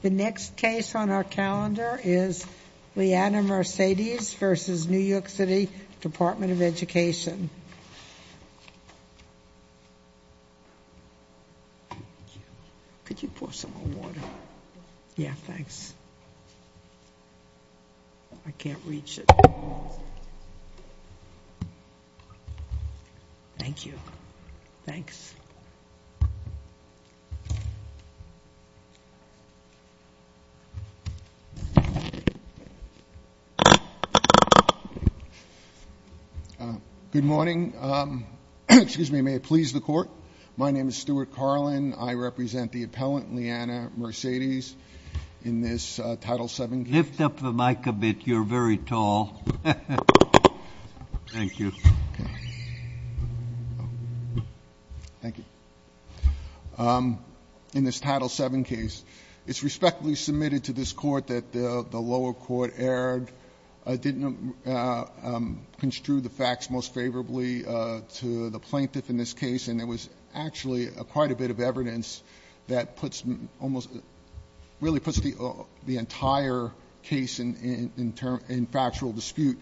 The next case on our calendar is Leanna Mercedes v. New York City Department of Education. Could you pour some more water? Yeah, thanks. I can't reach it. Thank you. Thanks. Good morning. Excuse me. May it please the court. My name is Stuart Carlin. I represent the appellant Leanna Mercedes in this Title VII case. Lift up the mic a bit. You're very tall. Thank you. Okay. Thank you. In this Title VII case, it's respectfully submitted to this Court that the lower court erred, didn't construe the facts most favorably to the plaintiff in this case, and there was actually quite a bit of evidence that puts almost, really puts the entire case in factual dispute.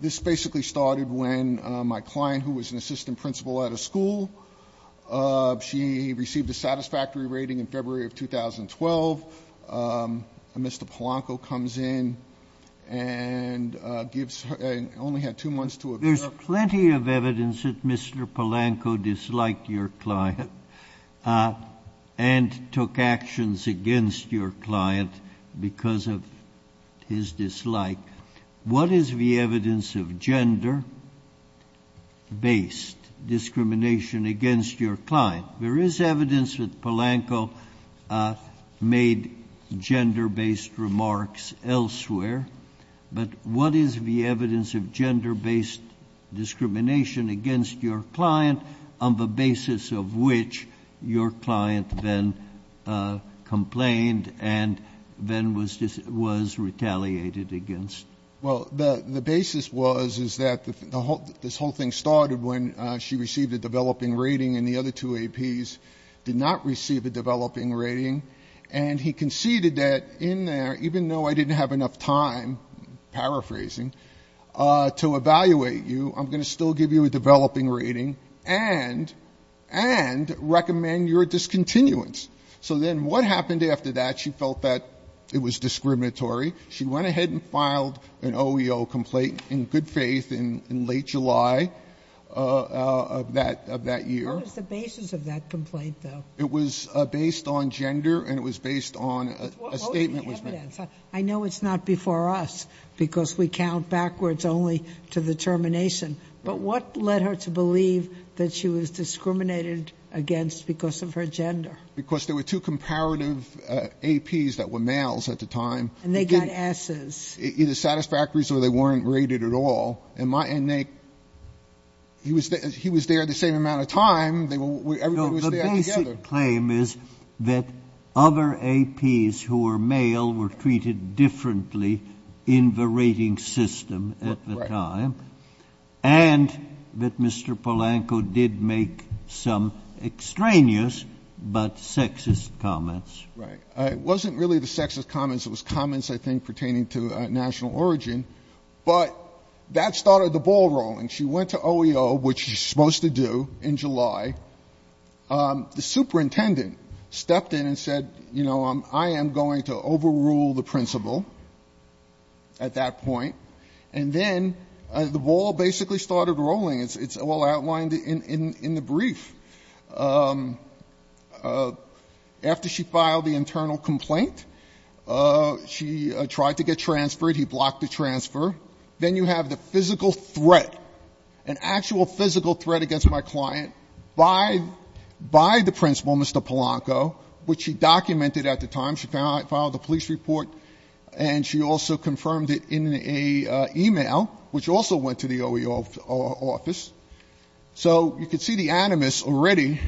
This basically started when my client, who was an assistant principal at a school, she received a satisfactory rating in February of 2012. Mr. Polanco comes in and only had two months to observe. There's plenty of evidence that Mr. Polanco disliked your client and took actions against your client because of his dislike. What is the evidence of gender-based discrimination against your client? There is evidence that Polanco made gender-based remarks elsewhere, but what is the evidence of gender-based discrimination against your client on the basis of which your client then complained and then was retaliated against? Well, the basis was is that this whole thing started when she received a developing rating and the other two APs did not receive a developing rating, and he conceded that in there, even though I didn't have enough time, paraphrasing, to evaluate you, I'm going to still give you a developing rating and recommend your discontinuance. So then what happened after that? She felt that it was discriminatory. She went ahead and filed an OEO complaint in good faith in late July of that year. What was the basis of that complaint, though? It was based on gender and it was based on a statement was made. What was the evidence? I know it's not before us because we count backwards only to the termination, but what led her to believe that she was discriminated against because of her gender? Because there were two comparative APs that were males at the time. And they got Ss. Either satisfactories or they weren't rated at all. And he was there the same amount of time. Everybody was there together. The basic claim is that other APs who were male were treated differently in the rating system at the time. Right. And that Mr. Polanco did make some extraneous but sexist comments. Right. It wasn't really the sexist comments. It was comments, I think, pertaining to national origin. But that started the ball rolling. She went to OEO, which she's supposed to do in July. The superintendent stepped in and said, you know, I am going to overrule the principal at that point. And then the ball basically started rolling. It's all outlined in the brief. After she filed the internal complaint, she tried to get transferred. He blocked the transfer. Then you have the physical threat, an actual physical threat against my client by the principal, Mr. Polanco, which she documented at the time. She filed the police report. And she also confirmed it in an e-mail, which also went to the OEO office. So you could see the animus already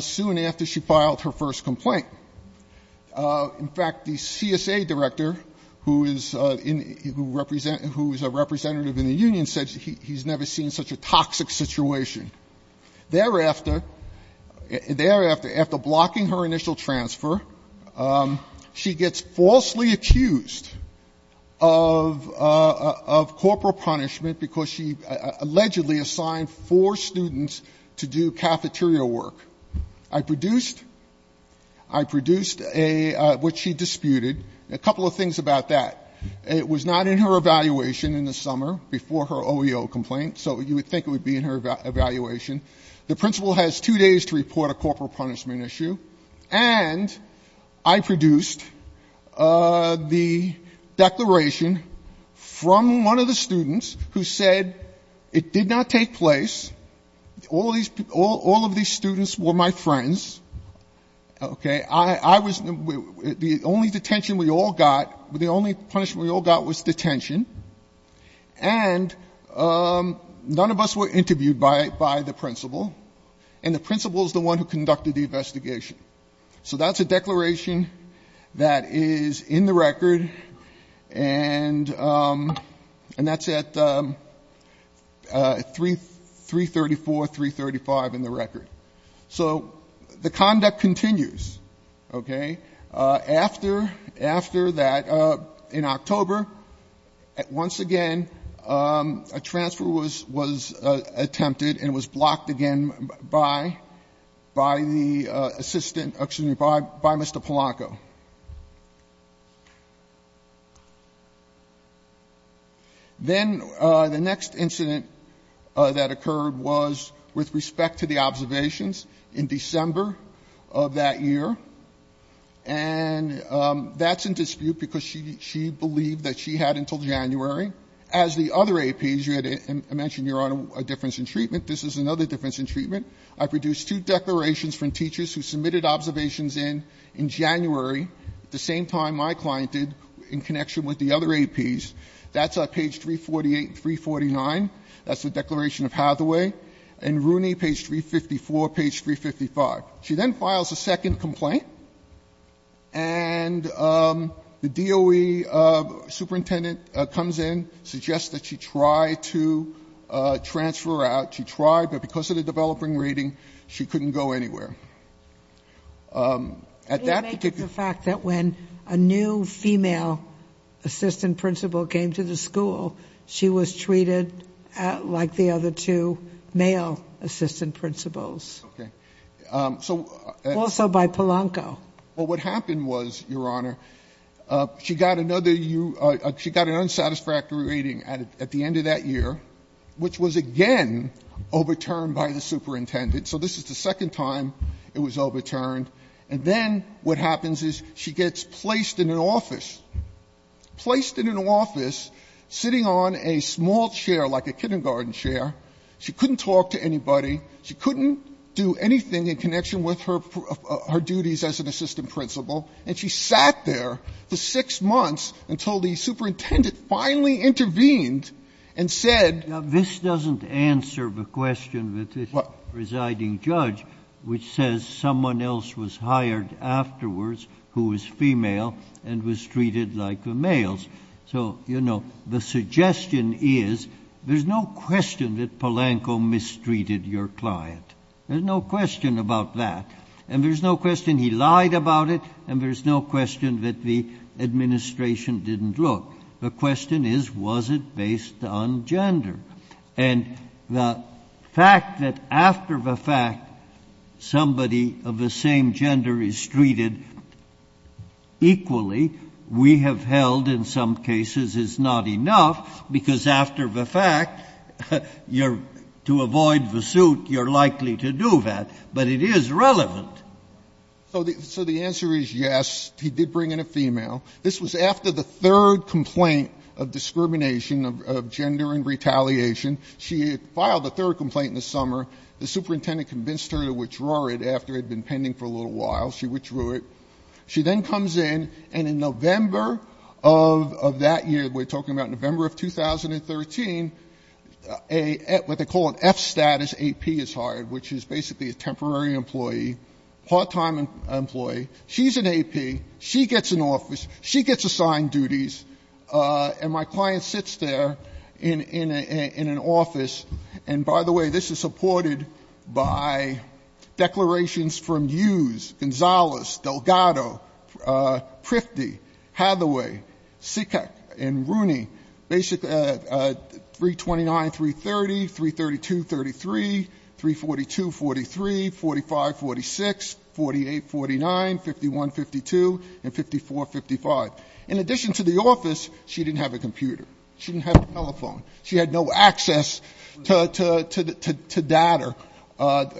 soon after she filed her first complaint. In fact, the CSA director, who is a representative in the union, said he's never seen such a toxic situation. Thereafter, after blocking her initial transfer, she gets falsely accused of corporal punishment because she allegedly assigned four students to do cafeteria work. I produced what she disputed. A couple of things about that. It was not in her evaluation in the summer before her OEO complaint. So you would think it would be in her evaluation. The principal has two days to report a corporal punishment issue. And I produced the declaration from one of the students who said it did not take place. All of these students were my friends. The only detention we all got, the only punishment we all got was detention. And none of us were interviewed by the principal. And the principal is the one who conducted the investigation. So that's a declaration that is in the record. And that's at 334, 335 in the record. So the conduct continues, okay? After that, in October, once again, a transfer was attempted and was blocked again by the assistant, excuse me, by Mr. Polanco. Then the next incident that occurred was with respect to the observations in December of that year. And that's in dispute because she believed that she had until January. As the other APs, you had mentioned your difference in treatment. This is another difference in treatment. I produced two declarations from teachers who submitted observations in January, at the same time my client did, in connection with the other APs. That's at page 348 and 349. That's the declaration of Hathaway. And Rooney, page 354, page 355. She then files a second complaint. And the DOE superintendent comes in, suggests that she try to transfer her out. She tried, but because of the developing rating, she couldn't go anywhere. At that particular ---- It makes the fact that when a new female assistant principal came to the school, she was treated like the other two male assistant principals. Okay. Also by Polanco. Well, what happened was, Your Honor, she got an unsatisfactory rating at the end of that year, which was again overturned by the superintendent. So this is the second time it was overturned. And then what happens is she gets placed in an office, placed in an office, sitting on a small chair like a kindergarten chair. She couldn't talk to anybody. She couldn't do anything in connection with her duties as an assistant principal. And she sat there for six months until the superintendent finally intervened and said ---- Now, this doesn't answer the question that the presiding judge, which says someone else was hired afterwards who was female and was treated like the males. So, you know, the suggestion is there's no question that Polanco mistreated your client. There's no question about that. And there's no question he lied about it. And there's no question that the administration didn't look. The question is, was it based on gender? And the fact that after the fact somebody of the same gender is treated equally, we have held in some cases it's not enough because after the fact, to avoid the suit, you're likely to do that. But it is relevant. So the answer is yes. He did bring in a female. This was after the third complaint of discrimination of gender and retaliation. She had filed the third complaint in the summer. The superintendent convinced her to withdraw it after it had been pending for a little while. She withdrew it. She then comes in, and in November of that year, we're talking about November of 2013, what they call an F-status AP is hired, which is basically a temporary employee, part-time employee. She's an AP. She gets an office. She gets assigned duties. And my client sits there in an office. And, by the way, this is supported by declarations from Hughes, Gonzalez, Delgado, Prifty, Hathaway, Sikak, and Rooney, basically 329, 330, 332, 33, 342, 43, 45, 46, 48, 49, 51, 52, and 54, 55. In addition to the office, she didn't have a computer. She didn't have a telephone. She had no access to data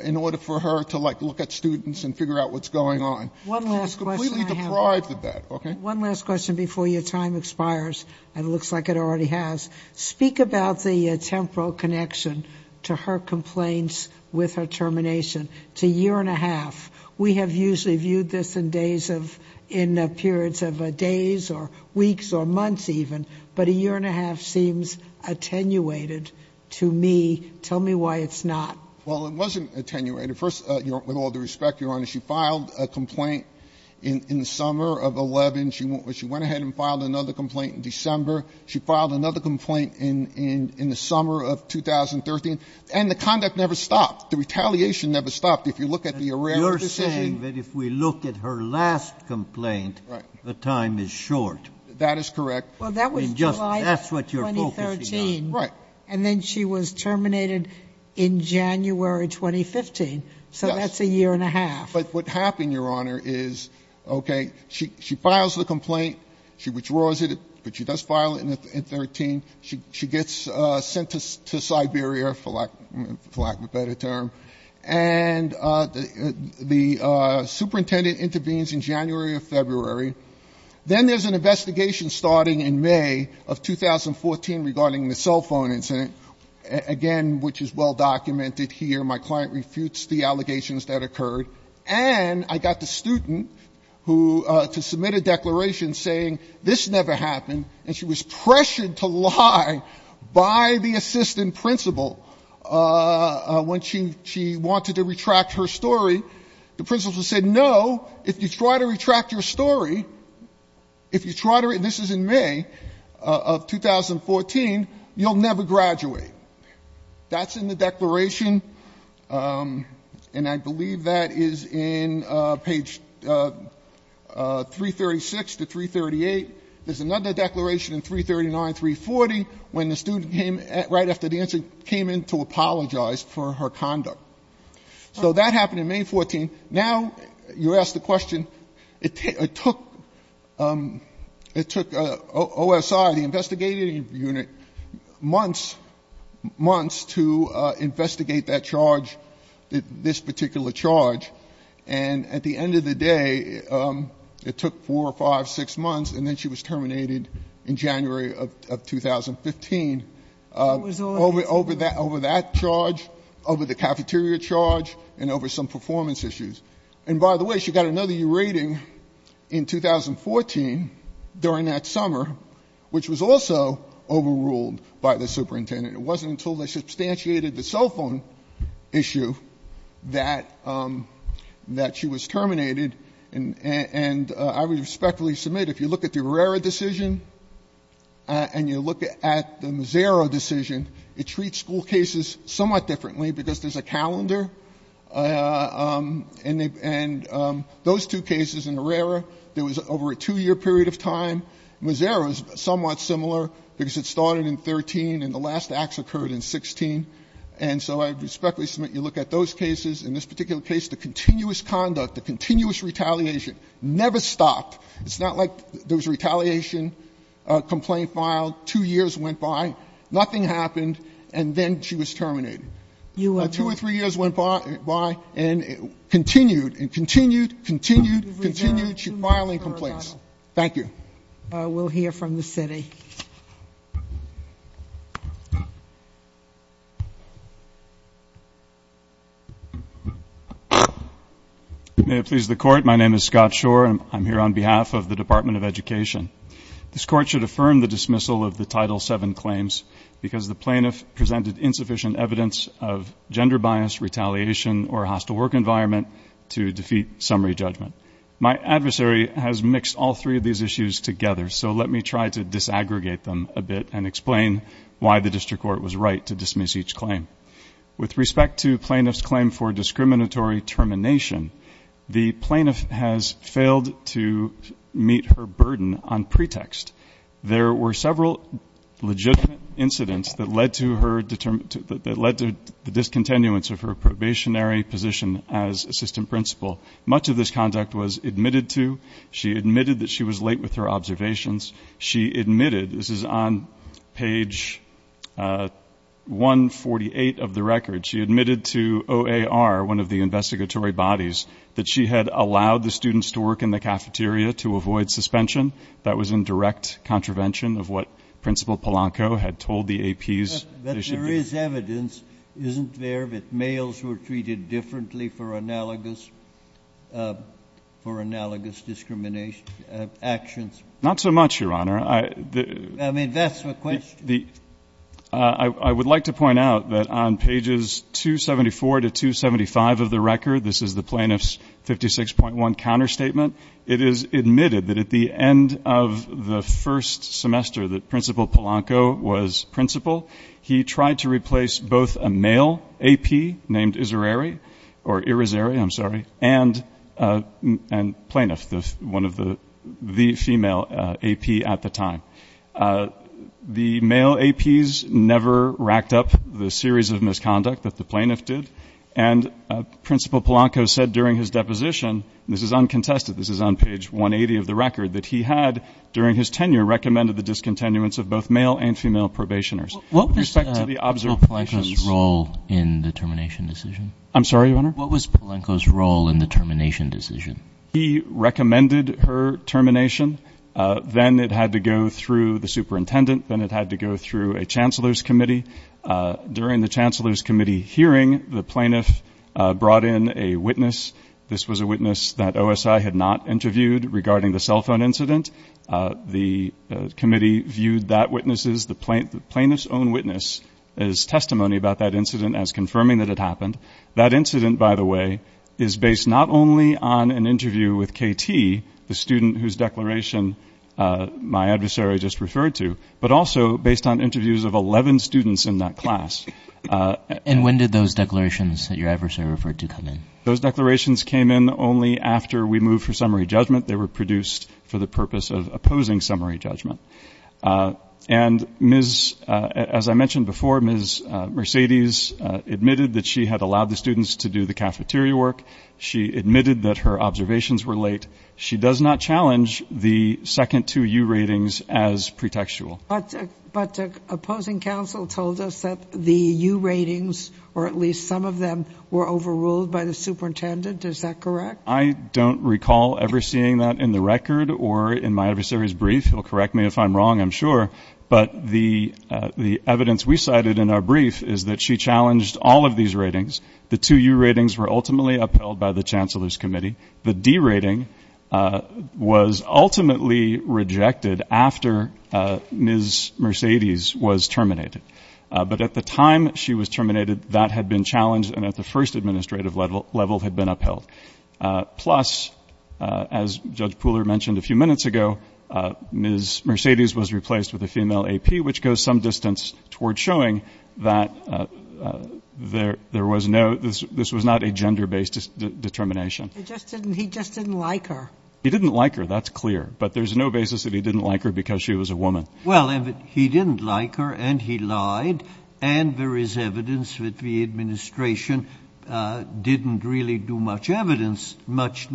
in order for her to, like, look at students and figure out what's going on. She was completely deprived of that. Okay? One last question before your time expires, and it looks like it already has. Speak about the temporal connection to her complaints with her termination. It's a year and a half. We have usually viewed this in days of — in periods of days or weeks or months even. But a year and a half seems attenuated to me. Tell me why it's not. Well, it wasn't attenuated. First, with all due respect, Your Honor, she filed a complaint. In the summer of 2011, she went ahead and filed another complaint in December. She filed another complaint in the summer of 2013. And the conduct never stopped. The retaliation never stopped. If you look at the arrest decision — You're saying that if we look at her last complaint — Right. — the time is short. That is correct. I mean, just — Well, that was July 2013. That's what you're focusing on. Right. And then she was terminated in January 2015. Yes. So that's a year and a half. But what happened, Your Honor, is, okay, she files the complaint. She withdraws it. But she does file it in 2013. She gets sent to Siberia, for lack of a better term. And the superintendent intervenes in January or February. Then there's an investigation starting in May of 2014 regarding the cell phone incident, again, which is well documented here. My client refutes the allegations that occurred. And I got the student to submit a declaration saying, this never happened. And she was pressured to lie by the assistant principal when she wanted to retract her story. The principal said, no, if you try to retract your story, if you try to — and this is in May of 2014 — you'll never graduate. That's in the declaration. And I believe that is in page 336 to 338. There's another declaration in 339, 340, when the student came — right after the incident — came in to apologize for her conduct. So that happened in May of 2014. Now, you ask the question, it took — it took OSI, the investigating unit, months, months to investigate that charge, this particular charge. And at the end of the day, it took 4, 5, 6 months, and then she was terminated in January of 2015. Over that charge, over the cafeteria charge, and over some performance issues. And by the way, she got another year rating in 2014 during that summer, which was also overruled by the superintendent. It wasn't until they substantiated the cell phone issue that she was terminated. And I would respectfully submit, if you look at the Herrera decision and you look at the Mazzaro decision, it treats school cases somewhat differently because there's a calendar. And those two cases in Herrera, there was over a 2-year period of time. Mazzaro is somewhat similar because it started in 13 and the last acts occurred in 16. And so I would respectfully submit you look at those cases. In this particular case, the continuous conduct, the continuous retaliation never stopped. It's not like there was a retaliation complaint filed, 2 years went by, nothing happened, and then she was terminated. Two or three years went by and it continued and continued, continued, continued. She's filing complaints. Thank you. We'll hear from the city. May it please the Court, my name is Scott Shore. I'm here on behalf of the Department of Education. This Court should affirm the dismissal of the Title VII claims because the plaintiff presented insufficient evidence of gender bias, retaliation, or hostile work environment to defeat summary judgment. My adversary has mixed all three of these issues together, so let me try to disaggregate them a bit and explain why the district court was right to dismiss each claim. With respect to plaintiff's claim for discriminatory termination, the plaintiff has failed to meet her burden on pretext. There were several legitimate incidents that led to the discontinuance of her probationary position as assistant principal. Much of this conduct was admitted to. She admitted that she was late with her observations. She admitted, this is on page 148 of the record, she admitted to OAR, one of the investigatory bodies, that she had allowed the students to work in the cafeteria to avoid suspension. That was in direct contravention of what Principal Polanco had told the APs. But there is evidence, isn't there, that males were treated differently for analogous discrimination actions? Not so much, Your Honor. I mean, that's the question. I would like to point out that on pages 274 to 275 of the record, this is the plaintiff's 56.1 counterstatement, it is admitted that at the end of the first semester that Principal Polanco was principal. He tried to replace both a male AP named Irizarry and Plaintiff, the female AP at the time. The male APs never racked up the series of misconduct that the plaintiff did, and Principal Polanco said during his deposition, this is uncontested, this is on page 180 of the record, that he had during his tenure recommended the discontinuance of both male and female probationers. What was Principal Polanco's role in the termination decision? I'm sorry, Your Honor? What was Principal Polanco's role in the termination decision? He recommended her termination. Then it had to go through the superintendent. Then it had to go through a chancellor's committee. During the chancellor's committee hearing, the plaintiff brought in a witness. This was a witness that OSI had not interviewed regarding the cell phone incident. The committee viewed that witness's, the plaintiff's own witness, as testimony about that incident as confirming that it happened. That incident, by the way, is based not only on an interview with KT, the student whose declaration my adversary just referred to, but also based on interviews of 11 students in that class. And when did those declarations that your adversary referred to come in? Those declarations came in only after we moved for summary judgment. They were produced for the purpose of opposing summary judgment. And, as I mentioned before, Ms. Mercedes admitted that she had allowed the students to do the cafeteria work. She admitted that her observations were late. She does not challenge the second two U ratings as pretextual. But the opposing counsel told us that the U ratings, or at least some of them, were overruled by the superintendent. Is that correct? I don't recall ever seeing that in the record or in my adversary's brief. He'll correct me if I'm wrong, I'm sure. But the evidence we cited in our brief is that she challenged all of these ratings. The two U ratings were ultimately upheld by the chancellor's committee. The D rating was ultimately rejected after Ms. Mercedes was terminated. But at the time she was terminated, that had been challenged and at the first administrative level had been upheld. Plus, as Judge Pooler mentioned a few minutes ago, Ms. Mercedes was replaced with a female AP, which goes some distance toward showing that this was not a gender-based determination. He just didn't like her. He didn't like her. That's clear. But there's no basis that he didn't like her because she was a woman. Well, he didn't like her and he lied, and there is evidence that the administration didn't really do much evidence, much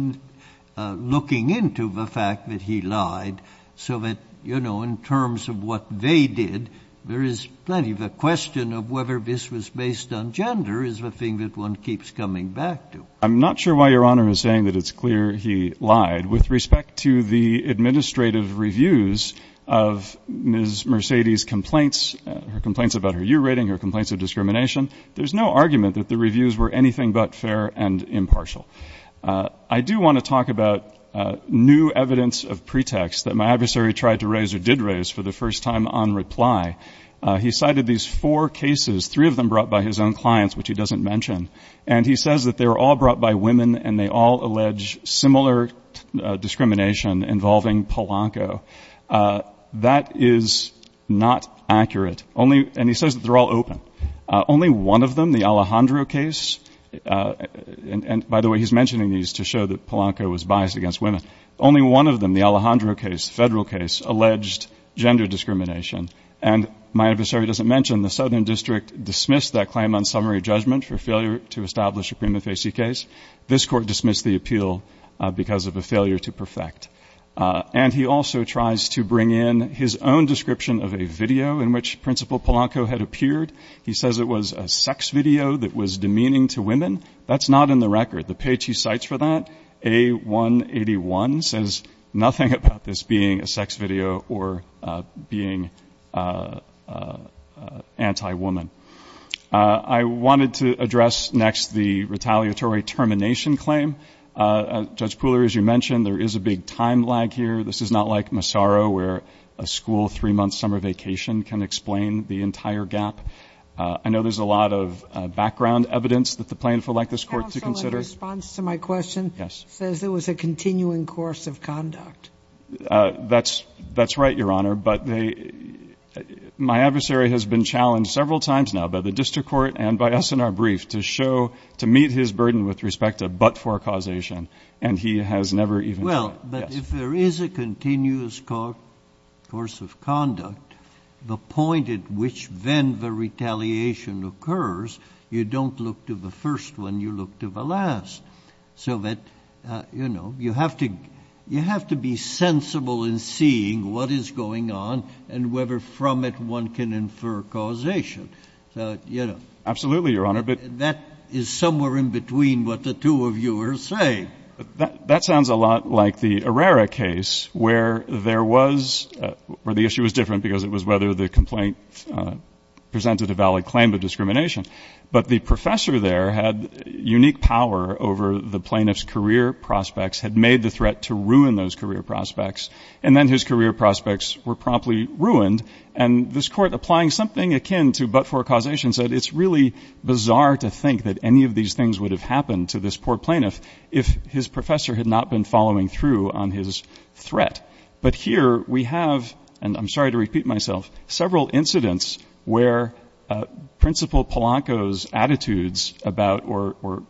looking into the fact that he lied so that, you know, in terms of what they did, there is plenty of a question of whether this was based on gender is the thing that one keeps coming back to. I'm not sure why Your Honor is saying that it's clear he lied. With respect to the administrative reviews of Ms. Mercedes' complaints, her complaints about her year rating, her complaints of discrimination, there's no argument that the reviews were anything but fair and impartial. I do want to talk about new evidence of pretext that my adversary tried to raise or did raise for the first time on reply. He cited these four cases, three of them brought by his own clients, which he doesn't mention, and he says that they were all brought by women and they all allege similar discrimination involving Polanco. That is not accurate. And he says that they're all open. Only one of them, the Alejandro case, and by the way he's mentioning these to show that Polanco was biased against women, only one of them, the Alejandro case, federal case, alleged gender discrimination. And my adversary doesn't mention the Southern District dismissed that claim on summary judgment for failure to establish a prima facie case. This court dismissed the appeal because of a failure to perfect. And he also tries to bring in his own description of a video in which Principal Polanco had appeared. He says it was a sex video that was demeaning to women. That's not in the record. The page he cites for that, A181, says nothing about this being a sex video or being anti-woman. I wanted to address next the retaliatory termination claim. Judge Pooler, as you mentioned, there is a big time lag here. This is not like Massaro where a school three-month summer vacation can explain the entire gap. I know there's a lot of background evidence that the plaintiff would like this court to consider. Counsel, in response to my question, says it was a continuing course of conduct. That's right, Your Honor. My adversary has been challenged several times now by the district court and by us in our brief to show, to meet his burden with respect to but-for causation, and he has never even done it. Well, but if there is a continuous course of conduct, the point at which then the retaliation occurs, you don't look to the first one, you look to the last. So that, you know, you have to be sensible in seeing what is going on and whether from it one can infer causation. So, you know. Absolutely, Your Honor. That is somewhere in between what the two of you are saying. That sounds a lot like the Herrera case where there was, where the issue was different because it was whether the complaint presented a valid claim of discrimination. But the professor there had unique power over the plaintiff's career prospects, had made the threat to ruin those career prospects, and then his career prospects were promptly ruined. And this Court, applying something akin to but-for causation, said it's really bizarre to think that any of these things would have happened to this poor plaintiff if his professor had not been following through on his threat. But here we have, and I'm sorry to repeat myself, several incidents where Principal Polanco's attitudes about or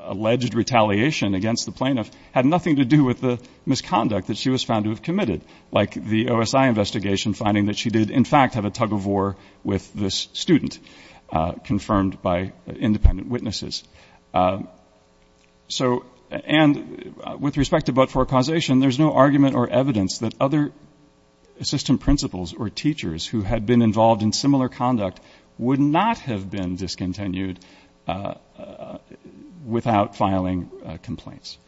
alleged retaliation against the plaintiff had nothing to do with the misconduct that she was found to have committed, like the OSI investigation finding that she did in fact have a tug-of-war with this student, confirmed by independent witnesses. So, and with respect to but-for causation, there's no argument or evidence that other assistant principals or teachers who had been involved in similar conduct would not have been discontinued without filing complaints.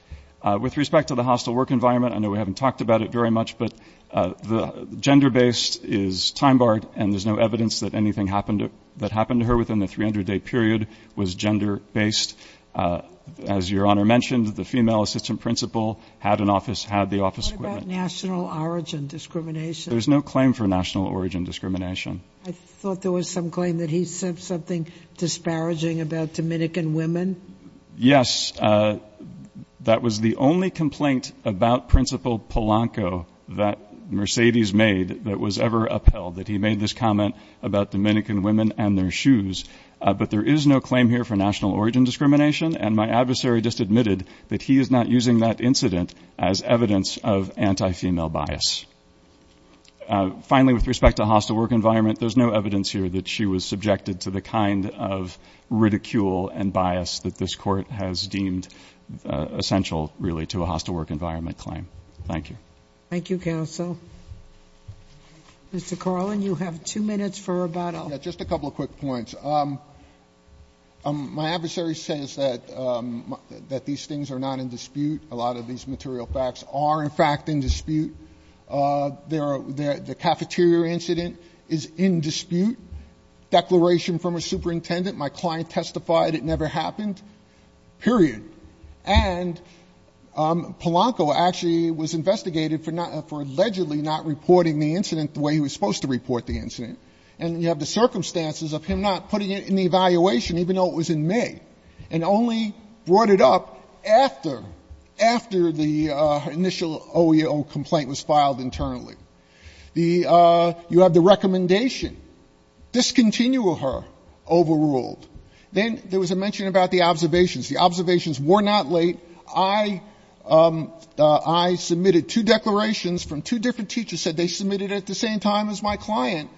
With respect to the hostile work environment, I know we haven't talked about it very much, but the gender-based is time-barred, and there's no evidence that anything that happened to her within the 300-day period was gender-based. As Your Honor mentioned, the female assistant principal had an office, had the office equipment. What about national origin discrimination? There's no claim for national origin discrimination. I thought there was some claim that he said something disparaging about Dominican women. Yes. That was the only complaint about Principal Polanco that Mercedes made that was ever upheld, that he made this comment about Dominican women and their shoes. But there is no claim here for national origin discrimination, and my adversary just admitted that he is not using that incident as evidence of anti-female bias. Finally, with respect to hostile work environment, there's no evidence here that she was subjected to the kind of ridicule and bias that this Court has deemed essential, really, to a hostile work environment claim. Thank you. Thank you, counsel. Mr. Carlin, you have two minutes for rebuttal. Just a couple of quick points. My adversary says that these things are not in dispute. A lot of these material facts are, in fact, in dispute. The cafeteria incident is in dispute. Declaration from a superintendent. My client testified it never happened, period. And Polanco actually was investigated for allegedly not reporting the incident the way he was supposed to report the incident. And you have the circumstances of him not putting it in the evaluation, even though it was in May, and only brought it up after, after the initial OEO complaint was filed internally. You have the recommendation. Discontinue her, overruled. Then there was a mention about the observations. The observations were not late. I submitted two declarations from two different teachers, said they submitted it at the same time as my client,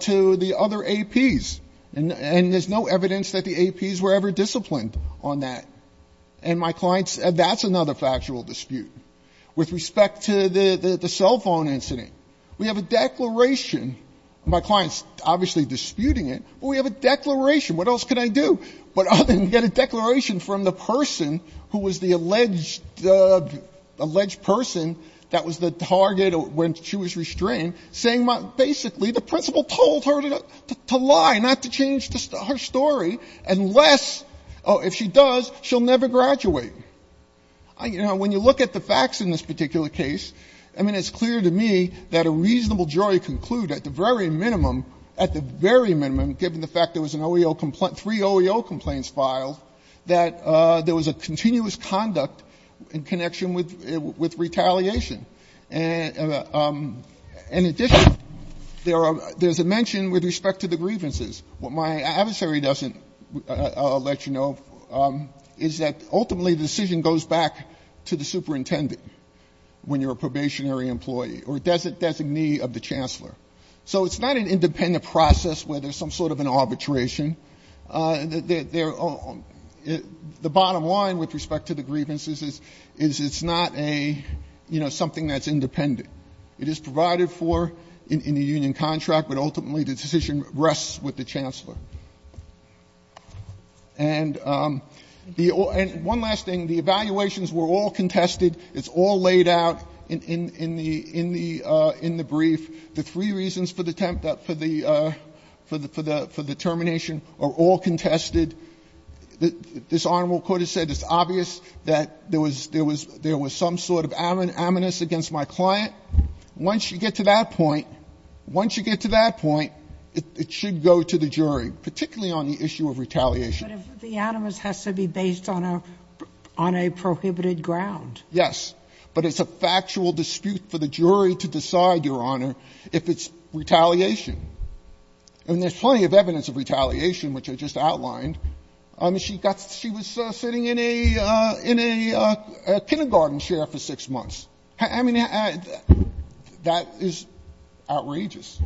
to the other APs. And there's no evidence that the APs were ever disciplined on that. And my client said that's another factual dispute. With respect to the cell phone incident, we have a declaration. My client's obviously disputing it. But we have a declaration. What else can I do? But I didn't get a declaration from the person who was the alleged, alleged person that was the target when she was restrained, saying basically the principal told her to lie, not to change her story, unless, if she does, she'll never graduate. You know, when you look at the facts in this particular case, I mean, it's clear to me that a reasonable jury can conclude at the very minimum, given the fact there was an OEO complaint, three OEO complaints filed, that there was a continuous conduct in connection with retaliation. In addition, there's a mention with respect to the grievances. What my adversary doesn't let you know is that ultimately the decision goes back to the superintendent when you're a probationary employee or designee of the chancellor. So it's not an independent process where there's some sort of an arbitration. The bottom line with respect to the grievances is it's not a, you know, something that's independent. It is provided for in the union contract, but ultimately the decision rests with the chancellor. And one last thing. The evaluations were all contested. It's all laid out in the brief. The three reasons for the termination are all contested. This Honorable Court has said it's obvious that there was some sort of aminus against my client. Once you get to that point, once you get to that point, it should go to the jury, particularly on the issue of retaliation. But the animus has to be based on a prohibited ground. Yes. But it's a factual dispute for the jury to decide, Your Honor, if it's retaliation. And there's plenty of evidence of retaliation, which I just outlined. She was sitting in a kindergarten chair for six months. I mean, that is outrageous.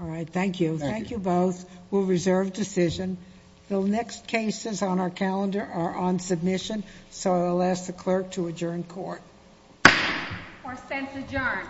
All right. Thank you. Thank you both. We'll reserve decision. The next cases on our calendar are on submission, so I'll ask the clerk to adjourn court. Court is adjourned.